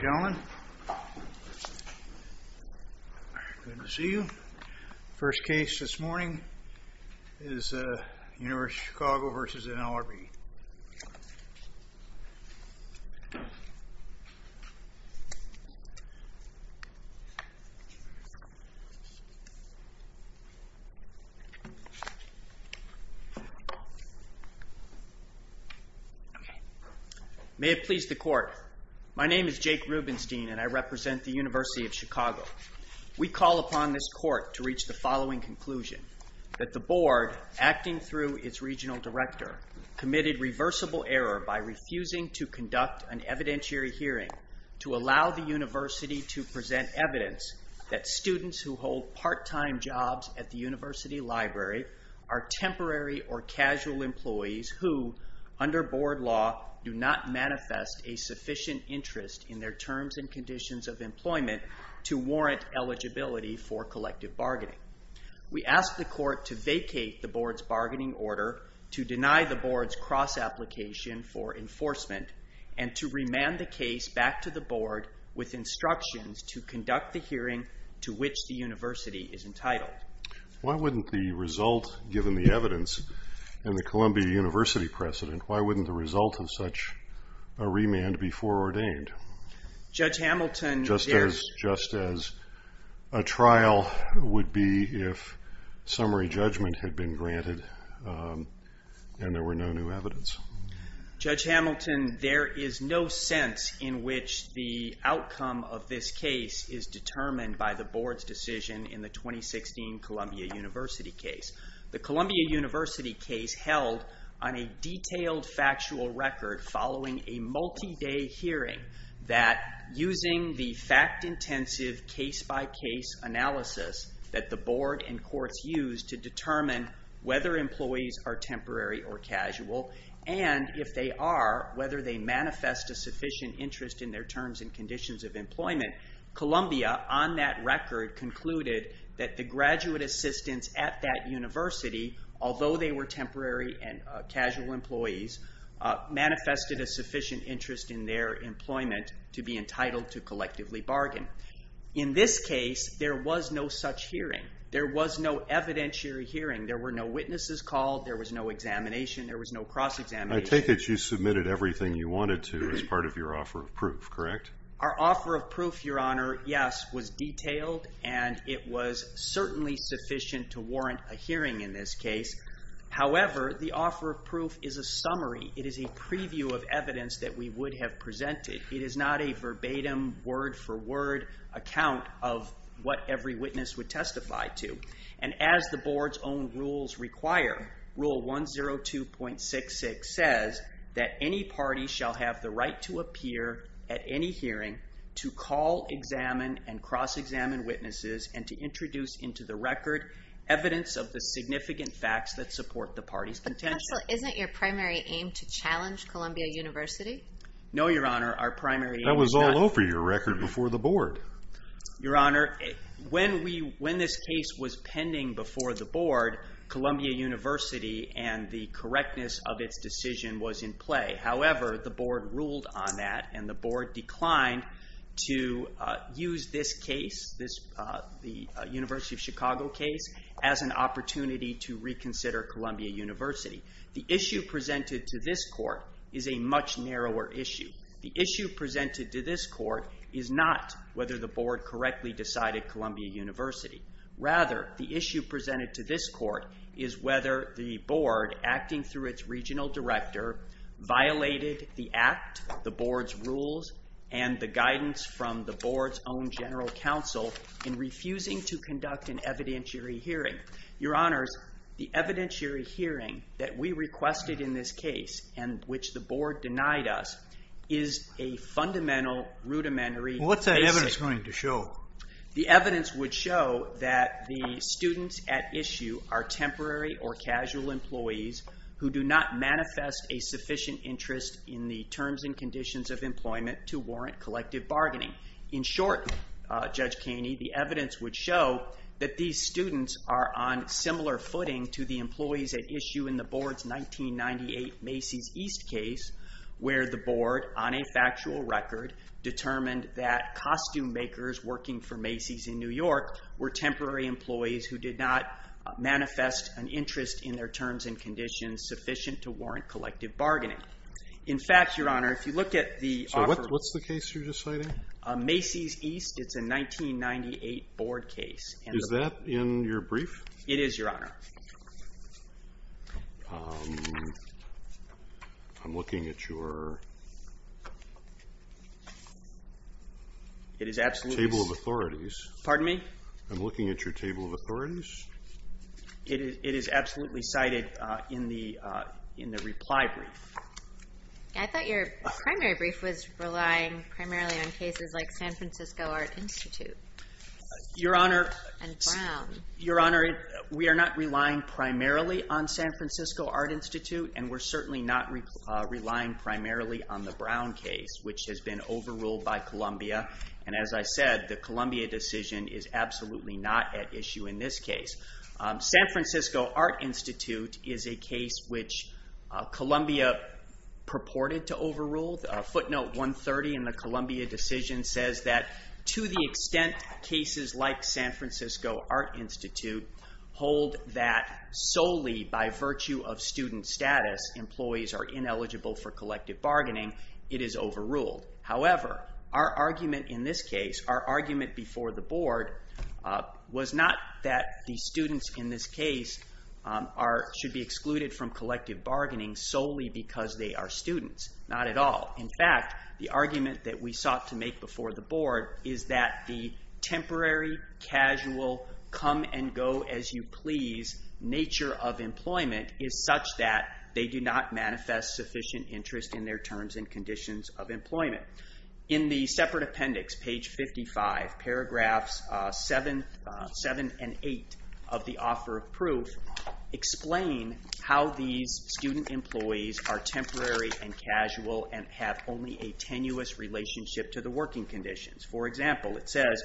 Ladies and gentlemen, good to see you. First case this morning is University of Chicago v. NLRB. May it please the Court, my name is Jake Rubenstein and I represent the University of Chicago. We call upon this Court to reach the following conclusion, that the Board, acting through its Regional Director, committed reversible error by refusing to conduct an evidentiary hearing to allow the University to present evidence that students who hold part-time jobs at the University Library are temporary or casual employees who, under Board law, do not manifest a sufficient interest in their terms and conditions of employment to warrant eligibility for collective bargaining. We ask the Court to vacate the Board's bargaining order, to deny the Board's cross-application for enforcement, and to remand the case back to the Board with instructions to conduct the hearing to which the University is entitled. Why wouldn't the result, given the evidence and the Columbia University precedent, why wouldn't the result of such a remand be foreordained? Just as a trial would be if summary judgment had been granted and there were no new evidence. Judge Hamilton, there is no sense in which the outcome of this case is determined by the Board's decision in the 2016 Columbia University case. The Columbia University case held on a detailed factual record following a multi-day hearing that, using the fact-intensive case-by-case analysis that the Board and Courts used to determine whether employees are temporary or casual, and if they are, whether they manifest a sufficient interest in their terms and conditions of employment, Columbia, on that record, concluded that the graduate assistants at that University, although they were temporary and casual employees, manifested a sufficient interest in their employment to be entitled to collectively bargain. In this case, there was no such hearing. There was no evidentiary hearing. There were no witnesses called. There was no examination. There was no cross-examination. I take it you submitted everything you wanted to as part of your offer of proof, correct? Our offer of proof, Your Honor, yes, was detailed, and it was certainly sufficient to warrant a hearing in this case. However, the offer of proof is a summary. It is a preview of evidence that we would have presented. It is not a verbatim, word-for-word account of what every witness would testify to. And as the Board's own rules require, Rule 102.66 says that any party shall have the right to appear at any hearing to call, examine, and verify evidence of the significant facts that support the party's contention. But counsel, isn't your primary aim to challenge Columbia University? No, Your Honor, our primary aim is not... That was all over your record before the Board. Your Honor, when this case was pending before the Board, Columbia University and the correctness of its decision was in play. However, the Board ruled on that, and the Board declined to use this case, the University of Chicago case, as an opportunity to reconsider Columbia University. The issue presented to this Court is a much narrower issue. The issue presented to this Court is not whether the Board correctly decided Columbia University. Rather, the issue presented to this Court is whether the Board, acting through its Regional Director, violated the Act, the Board's rules, and the guidance from the Board's own General Counsel, in refusing to conduct an evidentiary hearing. Your Honors, the evidentiary hearing that we requested in this case, and which the Board denied us, is a fundamental, rudimentary, basic... What's that evidence going to show? The evidence would show that the students at issue are temporary or casual employees who do not manifest a sufficient interest in the terms and conditions of employment to warrant collective bargaining. In short, Judge Kaney, the evidence would show that these students are on similar footing to the employees at issue in the Board's 1998 Macy's East case, where the Board, on a factual record, determined that costume makers working for Macy's in New York were temporary employees who did not manifest an interest in their terms and conditions sufficient to warrant collective bargaining. In fact, Your Honor, if you look at the... So, what's the case you're just citing? Macy's East. It's a 1998 Board case. Is that in your brief? It is, Your Honor. I'm looking at your... It is absolutely... Table of Authorities. Pardon me? I'm looking at your Table of Authorities. It is absolutely cited in the reply brief. I thought your primary brief was relying primarily on cases like San Francisco Art Institute. Your Honor... And Brown. Your Honor, we are not relying primarily on San Francisco Art Institute, and we're certainly not relying primarily on the Brown case, which has been overruled by Columbia. And as I said, the Columbia decision is absolutely not at issue in this case. San Francisco Art Institute is a case which Columbia purported to overrule. Footnote 130 in the Columbia decision says that, to the extent cases like San Francisco Art Institute hold that solely by virtue of student status, employees are ineligible for collective bargaining, it is overruled. However, our argument in this case, our argument before the Board, was not that the students in this case should be excluded from collective bargaining solely because they are students. Not at all. In fact, the argument that we sought to make before the Board is that the temporary, casual, come and go as you please nature of employment is such that they do not manifest sufficient interest in their terms and conditions of employment. In the separate appendix, page 55, paragraphs 7 and 8 of the offer of proof, explain how these student employees are temporary and casual and have only a tenuous relationship to the working conditions. For example, it says,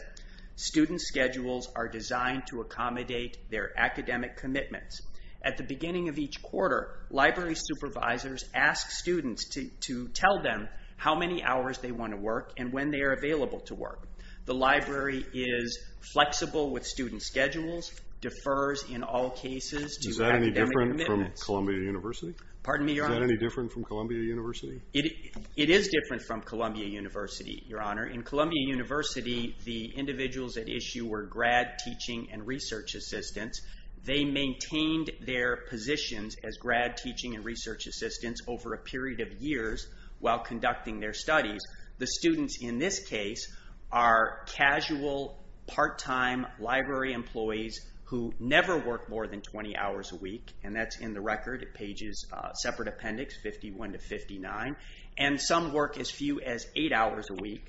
student schedules are designed to accommodate their academic commitments. At the beginning of each quarter, library supervisors ask students to tell them how many hours they want to work and when they are available to work. The library is flexible with student schedules, defers in all cases to academic commitments. Is that any different from Columbia University? Pardon me, Your Honor? Is that any different from Columbia University? It is different from Columbia University, Your Honor. In Columbia University, the individuals at issue were grad teaching and research assistants. They maintained their positions as grad teaching and research assistants over a period of years while conducting their studies. The students in this case are casual, part-time library employees who never work more than 20 hours a week, and that's in the record at pages, separate appendix 51 to 59, and some work as few as eight hours a week.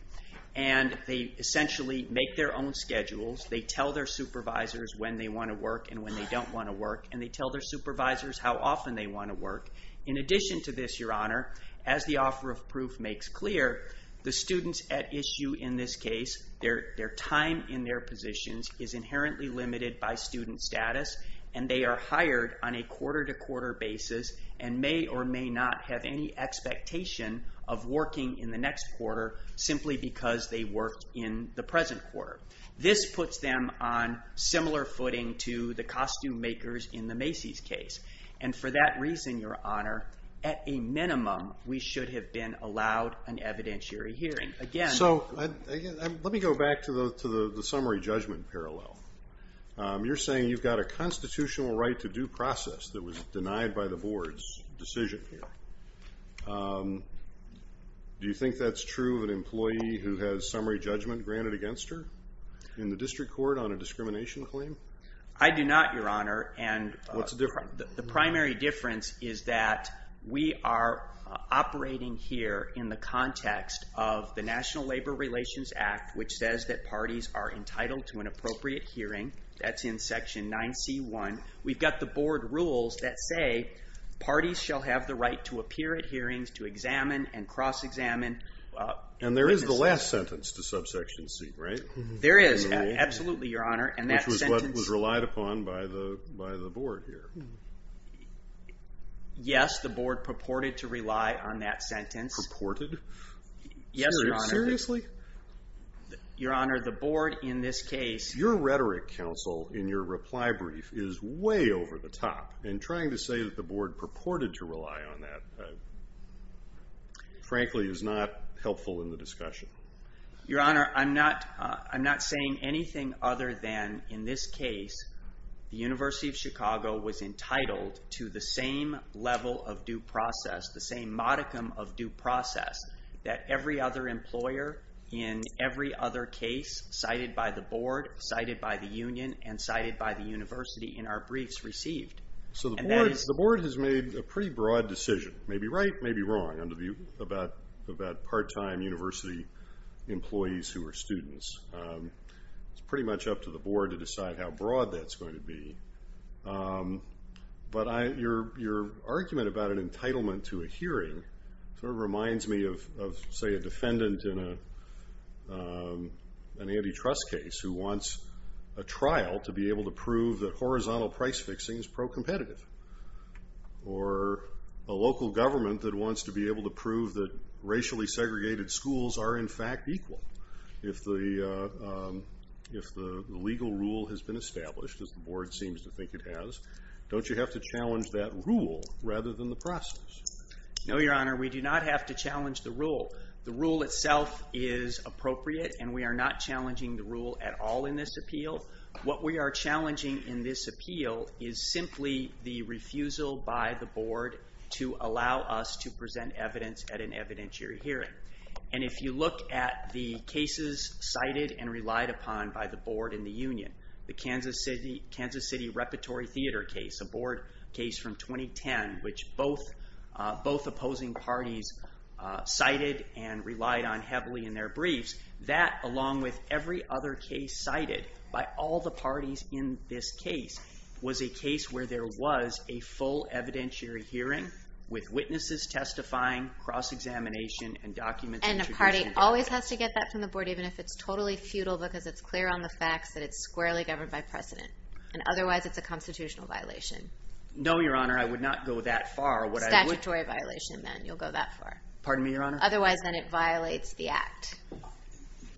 They essentially make their own schedules. They tell their supervisors when they want to work and when they don't want to work, and they tell their supervisors how often they want to work. In addition to this, Your Honor, as the offer of proof makes clear, the students at issue in this case, their time in their positions is inherently limited by student status, and they are hired on a quarter-to-quarter basis and may or may not have any expectation of working in the next quarter simply because they worked in the present quarter. This puts them on similar footing to the costume makers in the Macy's case, and for that reason, Your Honor, at a minimum, we should have been allowed an evidentiary hearing. Let me go back to the summary judgment parallel. You're saying you've got a constitutional right to due process that was denied by the Board's decision here. Do you think that's true of an employee who has summary judgment granted against her in the district court on a discrimination claim? I do not, Your Honor. What's the difference? The primary difference is that we are operating here in the context of the National Labor Relations Act, which says that parties are entitled to an appropriate hearing. That's in Section 9C1. We've got the Board rules that say parties shall have the right to appear at hearings, to examine and cross-examine. And there is the last sentence to Subsection C, right? There is, absolutely, Your Honor. Which was what was relied upon by the Board here. Yes, the Board purported to rely on that sentence. Purported? Yes, Your Honor. Seriously? Your Honor, the Board in this case... Your rhetoric, counsel, in your reply brief is way over the top. And trying to say that the Board purported to rely on that, frankly, is not helpful in the discussion. Your Honor, I'm not saying anything other than, in this case, the University of Chicago was entitled to the same level of due process, the same modicum of due process that every other employer in every other case cited by the Board, cited by the Union, and cited by the University in our briefs received. So the Board has made a pretty broad decision, maybe right, maybe wrong, about part-time university employees who are students. It's pretty much up to the Board to decide how broad that's going to be. But your argument about an entitlement to a hearing sort of reminds me of, say, a defendant in an antitrust case who wants a trial to be able to prove that horizontal price fixing is pro-competitive. Or a local government that wants to be able to prove that racially segregated schools are, in fact, equal. If the legal rule has been established, as the Board seems to think it has, don't you have to challenge that rule rather than the process? No, your Honor, we do not have to challenge the rule. The rule itself is appropriate, and we are not challenging the rule at all in this appeal. What we are challenging in this appeal is simply the refusal by the Board to allow us to present evidence at an evidentiary hearing. And if you look at the cases cited and relied upon by the Board and the Union, the Kansas City Repertory Theater case, a Board case from 2010, which both opposing parties cited and relied on heavily in their briefs, that, along with every other case cited, by all the parties in this case was a case where there was a full evidentiary hearing with witnesses testifying, cross-examination, and documents of introduction. And a party always has to get that from the Board even if it's totally futile because it's clear on the facts that it's squarely governed by precedent. And otherwise, it's a constitutional violation. No, your Honor, I would not go that far. Statutory violation, then, you'll go that far. Pardon me, your Honor? Otherwise, then it violates the Act.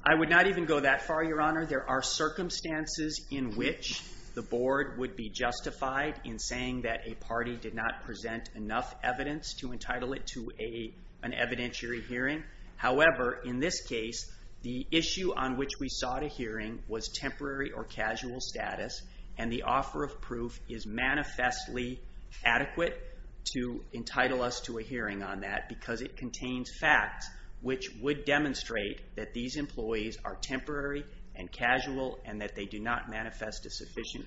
I would not even go that far, your Honor. Your Honor, there are circumstances in which the Board would be justified in saying that a party did not present enough evidence to entitle it to an evidentiary hearing. However, in this case, the issue on which we sought a hearing was temporary or casual status, and the offer of proof is manifestly adequate to entitle us to a hearing on that because it contains facts which would demonstrate that these employees are temporary and casual and that they do not manifest a sufficient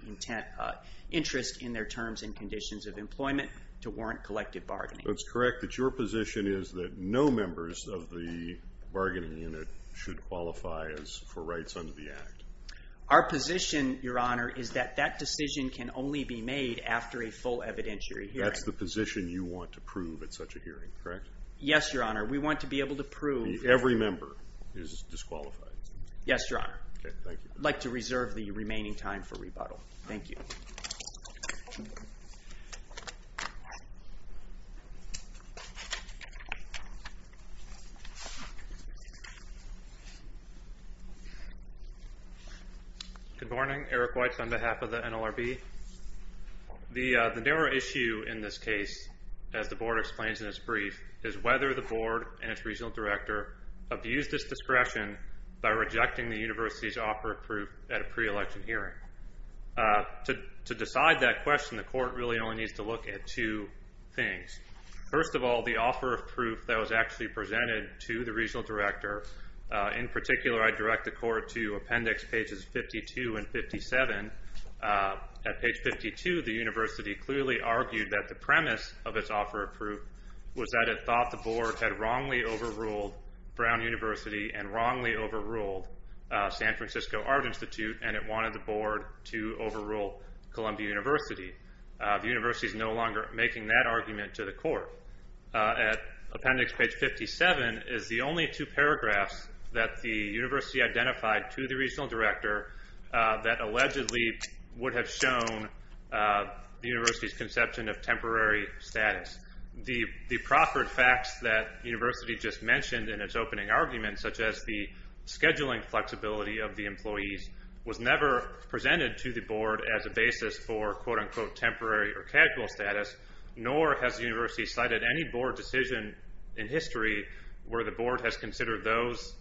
interest in their terms and conditions of employment to warrant collective bargaining. It's correct that your position is that no members of the bargaining unit should qualify for rights under the Act. Our position, your Honor, is that that decision can only be made after a full evidentiary hearing. That's the position you want to prove at such a hearing, correct? Yes, your Honor, we want to be able to prove that every member is disqualified. Yes, your Honor. I'd like to reserve the remaining time for rebuttal. Thank you. Good morning, Eric Weitz on behalf of the NLRB. The narrow issue in this case, as the Board explains in its brief, is whether the Board and its Regional Director abuse this discretion by rejecting the University's offer of proof at a pre-election hearing. To decide that question, the Court really only needs to look at two things. First of all, the offer of proof that was actually presented to the Regional Director. In particular, I direct the Court to appendix pages 52 and 57. At page 52, the University clearly argued that the premise of its offer of proof was that it thought the Board had wrongly overruled Brown University and wrongly overruled San Francisco Art Institute and it wanted the Board to overrule Columbia University. The University is no longer making that argument to the Court. Appendix page 57 is the only two paragraphs that the University identified to the Regional Director that allegedly would have shown the University's conception of temporary status. The proffered facts that the University just mentioned in its opening argument, such as the scheduling flexibility of the employees, was never presented to the Board as a basis for temporary or casual status nor has the University cited any Board decision in history where the Board has considered those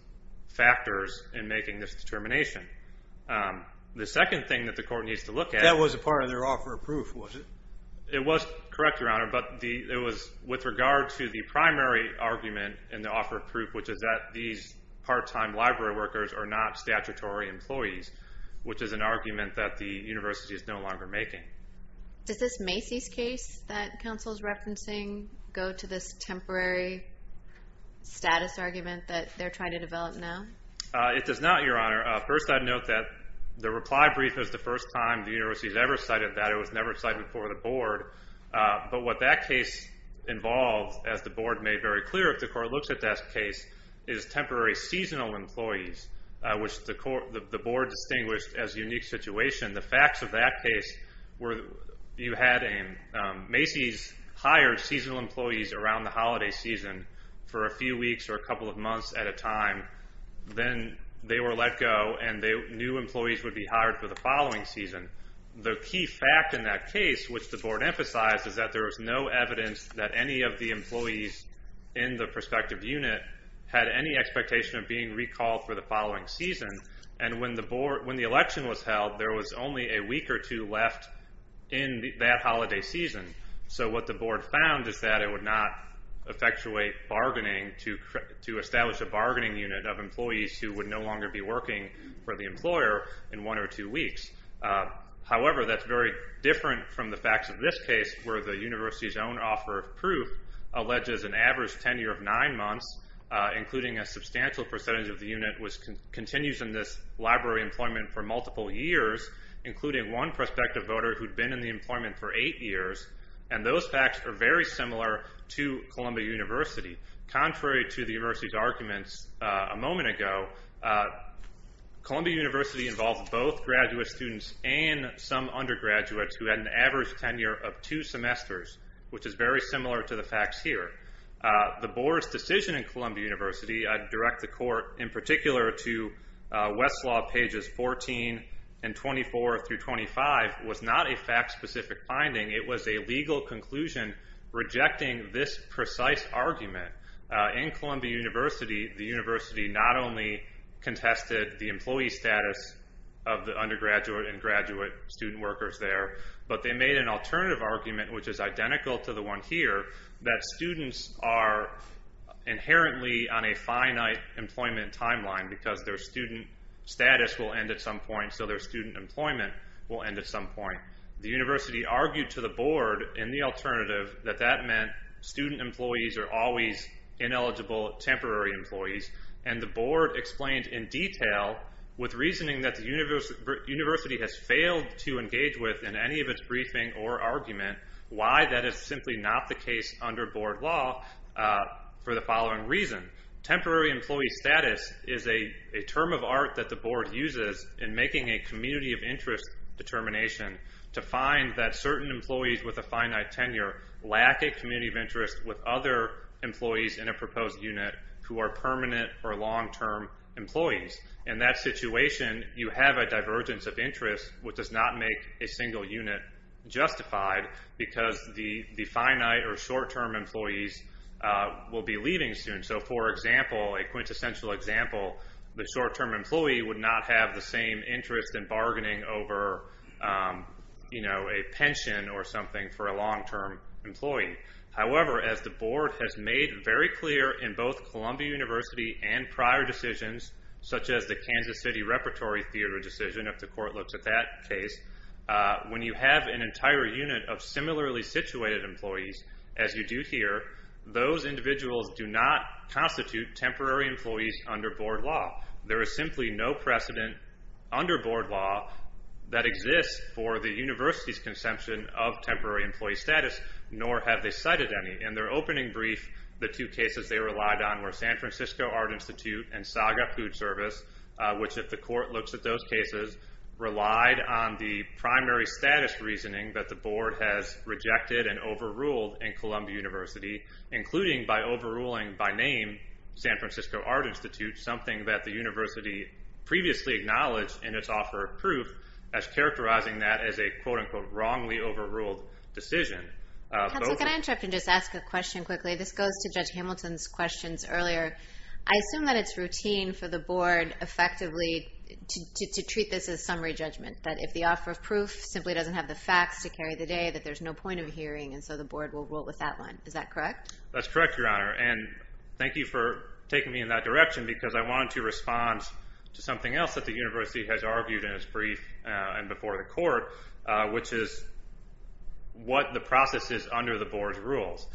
factors in making this determination. The second thing that the Court needs to look at... That was a part of their offer of proof, was it? It was, correct, Your Honor, but it was with regard to the primary argument in the offer of proof which is that these part-time library workers are not statutory employees which is an argument that the University is no longer making. Does this Macy's case that Council's referencing go to this temporary status argument that they're trying to develop now? It does not, Your Honor. First, I'd note that the reply brief was the first time the University has ever cited that. It was never cited before the Board. But what that case involved, as the Board made very clear if the Court looks at that case, is temporary seasonal employees which the Board distinguished as a unique situation. The facts of that case were Macy's hired seasonal employees around the holiday season for a few weeks or a couple of months at a time then they were let go and new employees would be hired for the following season. The key fact in that case, which the Board emphasized is that there was no evidence that any of the employees in the prospective unit had any expectation of being recalled for the following season and when the election was held there was only a week or two left in that holiday season. So what the Board found is that it would not effectuate bargaining to establish a bargaining unit of employees who would no longer be working for the employer in one or two weeks. However, that's very different from the facts of this case where the University's own offer of proof alleges an average tenure of nine months including a substantial percentage of the unit which continues in this library employment for multiple years including one prospective voter who'd been in the employment for eight years and those facts are very similar to Columbia University contrary to the University's arguments a moment ago Columbia University involved both graduate students and some undergraduates who had an average tenure of two semesters which is very similar to the facts here. The Board's decision in Columbia University, I'd direct the Court in particular to Westlaw pages 14 and 24 through 25 was not a fact-specific finding. It was a legal conclusion rejecting this precise argument. In Columbia University, the University not only contested the employee status of the undergraduate and graduate student workers there, but they made an alternative argument which is identical to the one here that students are inherently on a finite employment timeline because their student status will end at some point so their student employment will end at some point. The University argued to the Board in the alternative that that meant student employees are always ineligible temporary employees and the Board explained in detail with reasoning that the University has failed to engage with in any of its briefing or argument why that is simply for the following reason temporary employee status is a term of art that the Board uses in making a community of interest determination to find that certain employees with a finite tenure lack a community of interest with other employees in a proposed unit who are permanent or long-term employees in that situation you have a divergence of interest which does not make a single unit justified because the finite or short-term employees will be leaving soon. So for example a quintessential example the short-term employee would not have the same interest in bargaining over a pension or something for a long-term employee. However as the Board has made very clear in both Columbia University and prior decisions such as the Kansas City Repertory Theater decision if the Court looks at that case when you have an entire unit of similarly situated employees as you do here those individuals do not constitute temporary employees under Board law there is simply no precedent under Board law that exists for the University's conception of temporary employee status nor have they cited any. In their opening brief the two cases they relied on were San Francisco Art Institute and Saga Food Service which if the Court looks at those cases relied on the primary status reasoning that the Board has rejected and overruled in Columbia University including by overruling by name San Francisco Art Institute something that the University previously acknowledged in its offer of proof as characterizing that as a quote unquote wrongly overruled decision. Counselor can I interrupt and just ask a question quickly this goes to Judge Hamilton's questions earlier. I assume that it's routine for the Board effectively to treat this as summary judgment that if the offer of proof simply doesn't have the facts to carry the day that there's no point of hearing and so the Board will rule with that one is that correct? That's correct Your Honor and thank you for taking me in that direction because I wanted to respond to something else that the University has argued in its brief and before the Court which is what the process is under the Board's rules.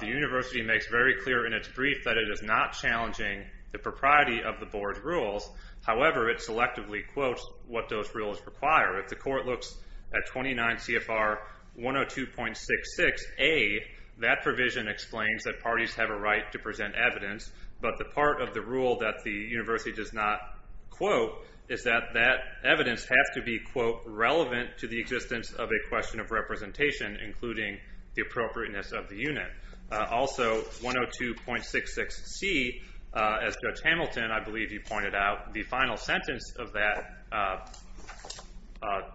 The University makes very clear in its brief that it is not challenging the propriety of the Board's rules however it selectively quotes what those rules require. If the Court looks at 29 CFR 102.66 A that provision explains that parties have a right to present evidence but the part of the rule that the University does not quote is that that evidence has to be quote relevant to the existence of a question of representation including the appropriateness of the unit also 102.66 C as Judge Hamilton I believe you pointed out the final sentence of that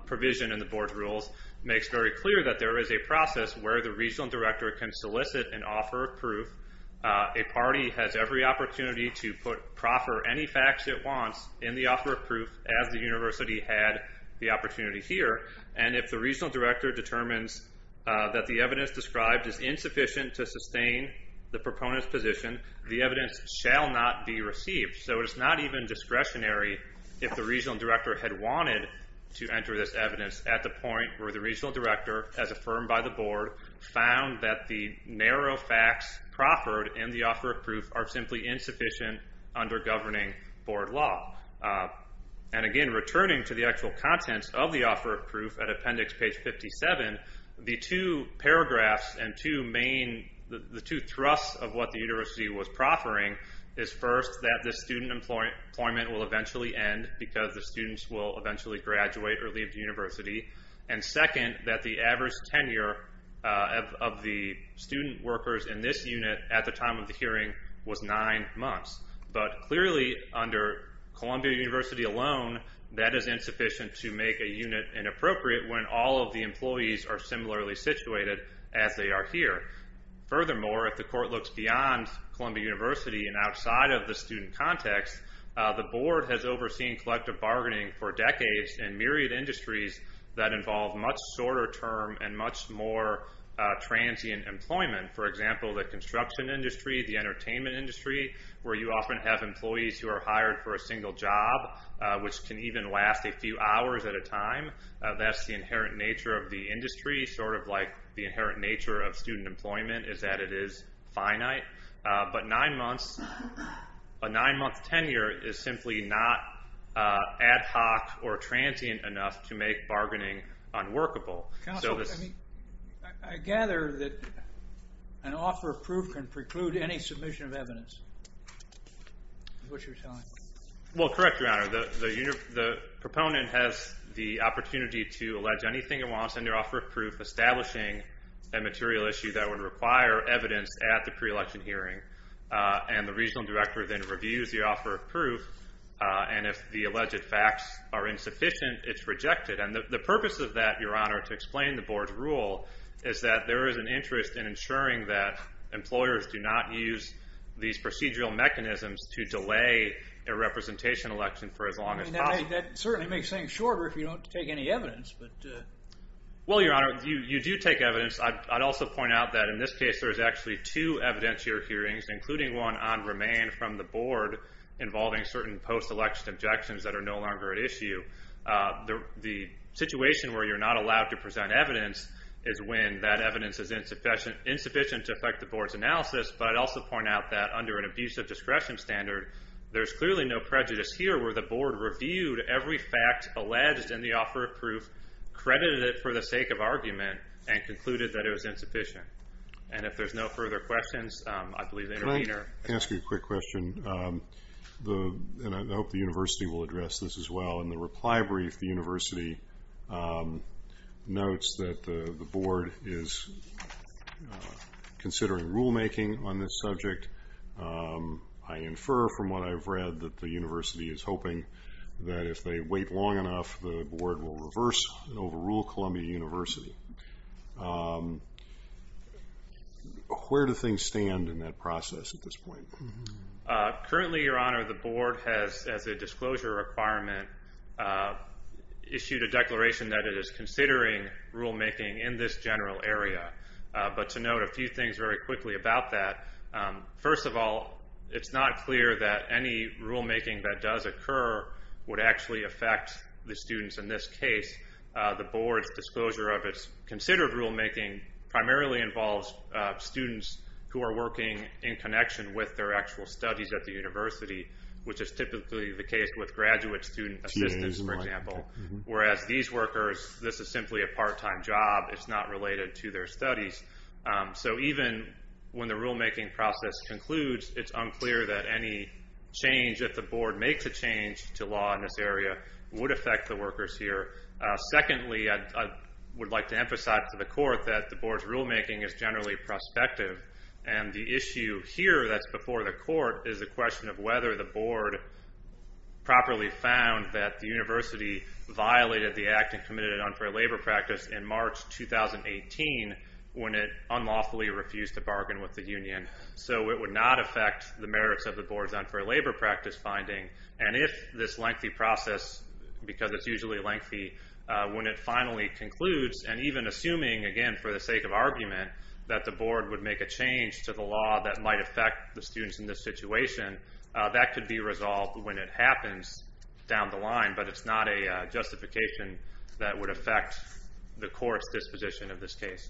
provision in the Board's rules makes very clear that there is a process where the Regional Director can solicit an offer of proof a party has every opportunity to proffer any facts it wants in the offer of proof as the University had the opportunity here and if the Regional Director determines that the evidence described is insufficient to sustain the proponent's position the evidence shall not be received so it's not even discretionary if the Regional Director had wanted to enter this evidence at the point where the Regional Director as affirmed by the Board found that the narrow facts proffered in the offer of proof are simply insufficient under governing Board law and again returning to the actual contents of the offer of proof at appendix page 57 the two paragraphs and two main the two thrusts of what the University was proffering is first that the student employment will eventually end because the students will eventually graduate or leave the University and second that the average tenure of the student workers in this unit at the time of the hearing was 9 months but clearly under Columbia University alone that is insufficient to make a unit inappropriate when all of the employees are similarly situated as they are here furthermore if the court looks beyond Columbia University and outside of the student context the Board has overseen collective bargaining for decades and myriad industries that involve much shorter term and much more transient employment for example the construction industry the entertainment industry where you often have employees who are hired for a single job which can even last a few hours at a time that's the inherent nature of the industry sort of like the inherent nature of student employment is that it is finite but 9 months a 9 month tenure is simply not ad hoc or transient enough to make bargaining unworkable I gather that an offer of proof can preclude any submission of evidence is what you're telling me well correct your honor the proponent has the opportunity to allege anything he wants under offer of proof establishing a material issue that would require evidence at the pre-election hearing and the regional director then reviews the offer of proof and if the alleged facts are insufficient it's rejected and the purpose of that your honor to explain the Board's rule is that there is an interest in ensuring that employers do not use these procedural mechanisms to delay a representation election for as long as possible that certainly makes things shorter if you don't take any evidence well your honor you do take evidence I'd also point out that in this case there's actually two evidentiary hearings including one on remain from the Board involving certain post-election objections that are no longer at issue the situation where you're not allowed to present evidence is when that evidence is insufficient to affect the Board's analysis but I'd also point out that under an abusive discretion standard there's clearly no prejudice here where the Board reviewed every fact alleged in the offer of proof credited it for the sake of argument and concluded that it was insufficient and if there's no further questions I believe the intervener can I ask you a quick question and I hope the University will address this as well in the reply brief the University notes that the Board is considering rulemaking on this subject I infer from what I've read that the University is hoping that if they wait long enough the Board will reverse and overrule Columbia University where do things stand in that process at this point currently your honor the Board has as a disclosure requirement issued a declaration that it is considering rulemaking in this general area but to note a few things very quickly about that first of all it's not clear that any rulemaking that does occur would actually affect the students in this case the Board's disclosure of its considered rulemaking primarily involves students who are working in connection with their actual studies at the University which is typically the case with graduate student assistants for example whereas these workers this is simply a part time job it's not related to their studies so even when the rulemaking process concludes it's unclear that any change if the Board makes a change to law in this area would affect the workers here secondly I would like to emphasize to the Court that the Board's rulemaking is generally prospective and the issue here that's before the Court is the question of whether the Board properly found that the University violated the act and committed an unfair labor practice in March 2018 when it unlawfully refused to bargain with the Union so it would not affect the merits of the Board's unfair labor practice finding and if this lengthy process because it's usually lengthy when it finally concludes and even assuming again for the sake of argument that the Board would make a change to the law that might affect the students in this situation that could be resolved when it happens down the line but it's not a justification that would affect the Court's disposition of this case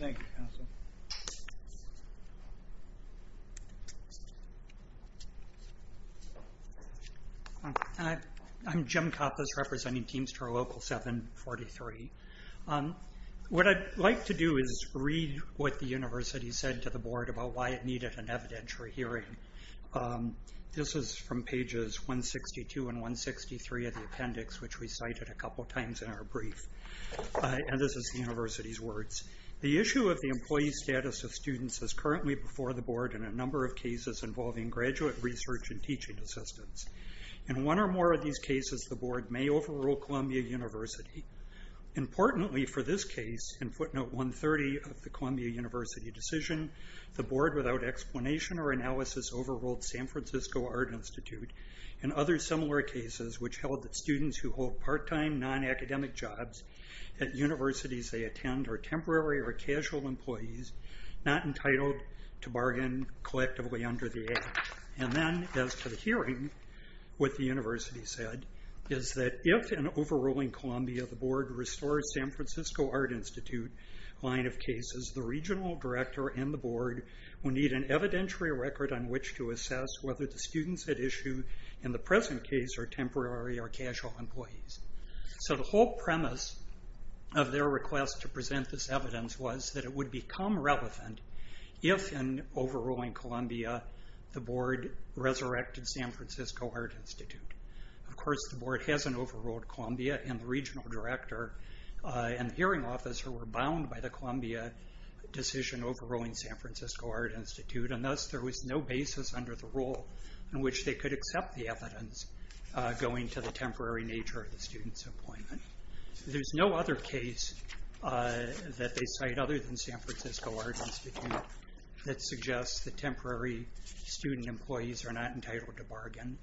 Thank you Hi I'm Jim Kappas representing Teamster Local 743 What I'd like to do is read what the University said to the Board about why it needed an evidentiary hearing This is from pages 162 and 163 of the appendix which we cited a couple times in our brief and this is the University's words. The issue of the employee status of students is currently before the Board in a number of cases involving graduate research and teaching assistance. In one or more of these cases the Board may overrule Columbia University. Importantly for this case in footnote 130 of the Columbia University decision the Board without explanation or analysis overruled San Francisco Art Institute and other similar cases which held that students who hold part-time non-academic jobs at universities they attend are temporary or casual employees not entitled to bargain collectively under the Act and then as to the hearing what the University said is that if an overruling Columbia the Board restores San Francisco Art Institute line of cases the Regional Director and the Board will need an evidentiary record on which to assess whether the students at issue in the present case are temporary or casual employees So the whole premise of their request to present this is that it would be irrelevant if an overruling Columbia the Board resurrected San Francisco Art Institute. Of course the Board hasn't overruled Columbia and the Regional Director and the Hearing Officer were bound by the Columbia decision overruling San Francisco Art Institute and thus there was no basis under the rule in which they could accept the evidence going to the temporary nature of the student's appointment. There's no other case that they cite other than San Francisco Art Institute that suggests that temporary student employees are not entitled to bargain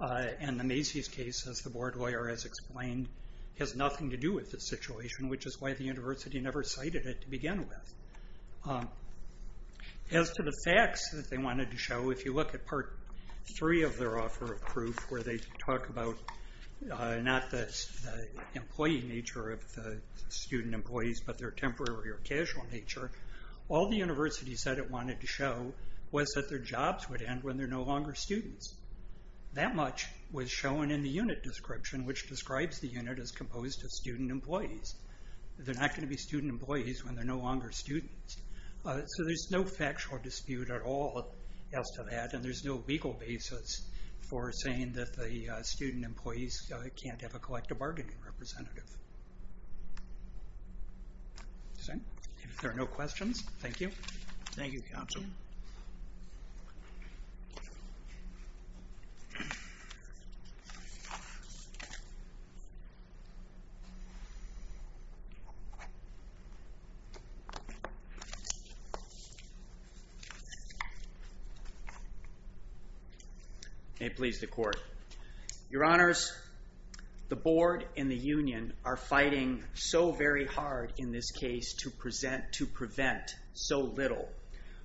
and the Macy's case as the Board lawyer has explained has nothing to do with this situation which is why the University never cited it to begin with. As to the facts that they wanted to show if you look at Part 3 of their offer of proof where they talk about not the employee nature of the student employees but their temporary or casual nature, all the University said it wanted to show was that their jobs would end when they're no longer students. That much was shown in the unit description which describes the unit as composed of student employees. They're not going to be student employees when they're no longer students. So there's no factual dispute at all as to that and there's no legal basis for saying that the student employees can't have a collective bargaining representative. If there are no questions, thank you. Thank you counsel. May it please the Court. Your Honors, the Board and the Union are fighting so very hard in this case to present, to prevent so little.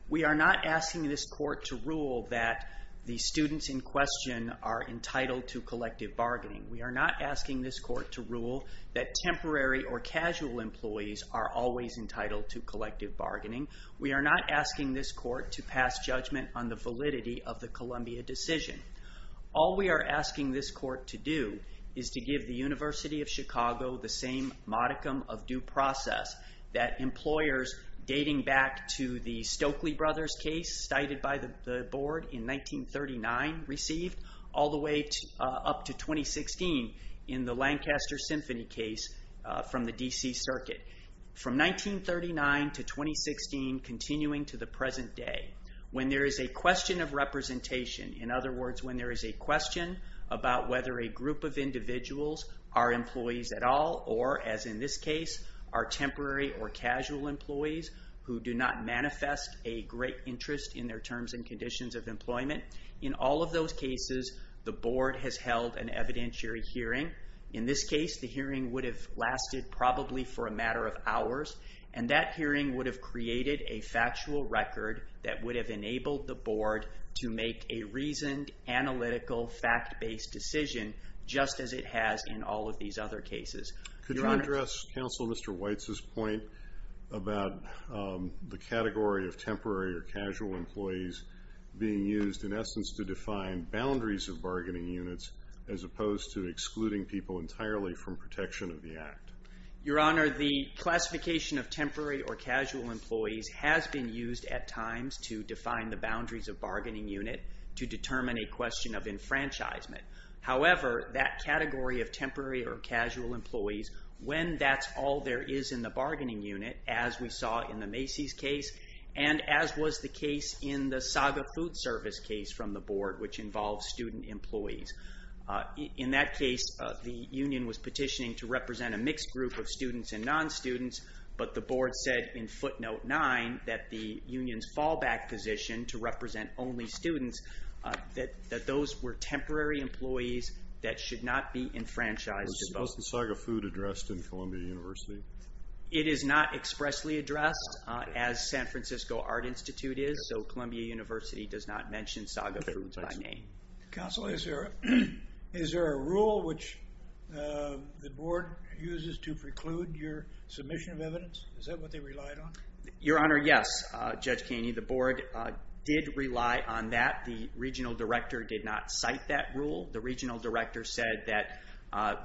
We are not asking this court to rule that the students in question are entitled to collective bargaining. We are not asking this court to rule that temporary or casual employees are always entitled to collective bargaining. We are not asking this court to pass judgment on the validity of the Columbia decision. All we are asking this court to do is to give the University of Chicago the same modicum of due process that the Stokely Brothers case cited by the Board in 1939 received all the way up to 2016 in the Lancaster Symphony case from the D.C. Circuit. From 1939 to 2016 continuing to the present day when there is a question of representation, in other words when there is of individuals are employees at all or as in this case are temporary or casual employees who do not manifest a great interest in their terms and conditions of employment. In all of those cases, the Board has held an evidentiary hearing. In this case, the hearing would have lasted probably for a matter of hours and that hearing would have created a factual record that would have enabled the Board to make a reasoned, analytical fact-based decision just as it has in all of these other cases. Your Honor... What about the category of temporary or casual employees being used in essence to define boundaries of bargaining units as opposed to excluding people entirely from protection of the Act? Your Honor, the classification of temporary or casual employees has been used at times to define the boundaries of bargaining unit to determine a question of enfranchisement. However, that category of temporary or casual employees, when that's all there is in the bargaining unit, as we saw in the Macy's case, and as was the case in the Saga Food Service case from the Board, which involves student employees. In that case, the union was petitioning to represent a mixed group of students and non-students, but the Board said in footnote 9 that the union's fallback position to represent only students that those were temporary employees that should not be enfranchised at all. Was the Saga Food addressed in Columbia University? It is not expressly addressed as San Francisco Art Institute is, so Columbia University does not mention Saga Foods by name. Counsel, is there a rule which the Board uses to preclude your submission of evidence? Is that what they relied on? Your Honor, yes, Judge Kaney. The Board did rely on that. The Regional Director did not cite that rule. The Regional Director said that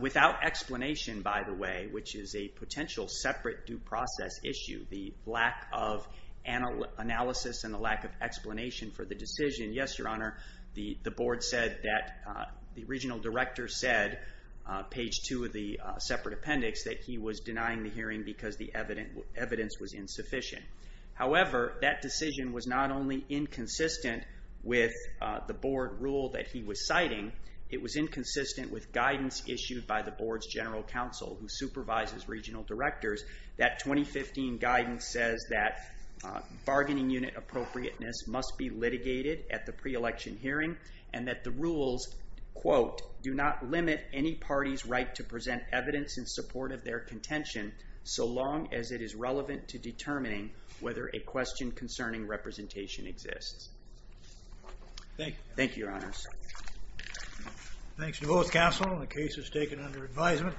without explanation, by the way, which is a potential separate due process issue, the lack of analysis and the lack of explanation for the decision, yes, Your Honor, the Board said that the Regional Director said, page 2 of the separate appendix, that he was denying the hearing because the evidence was insufficient. However, that decision was not only inconsistent with the Board rule that he was citing, it was inconsistent with guidance issued by the Board's General Counsel who supervises Regional Directors that 2015 guidance says that bargaining unit appropriateness must be litigated at the pre-election hearing and that the rules, quote, do not limit any party's right to present evidence in support of their contention so long as it is relevant to determining whether a question concerning representation exists. Thank you, Your Honors. Thanks to both counsel. The case is taken under advisement.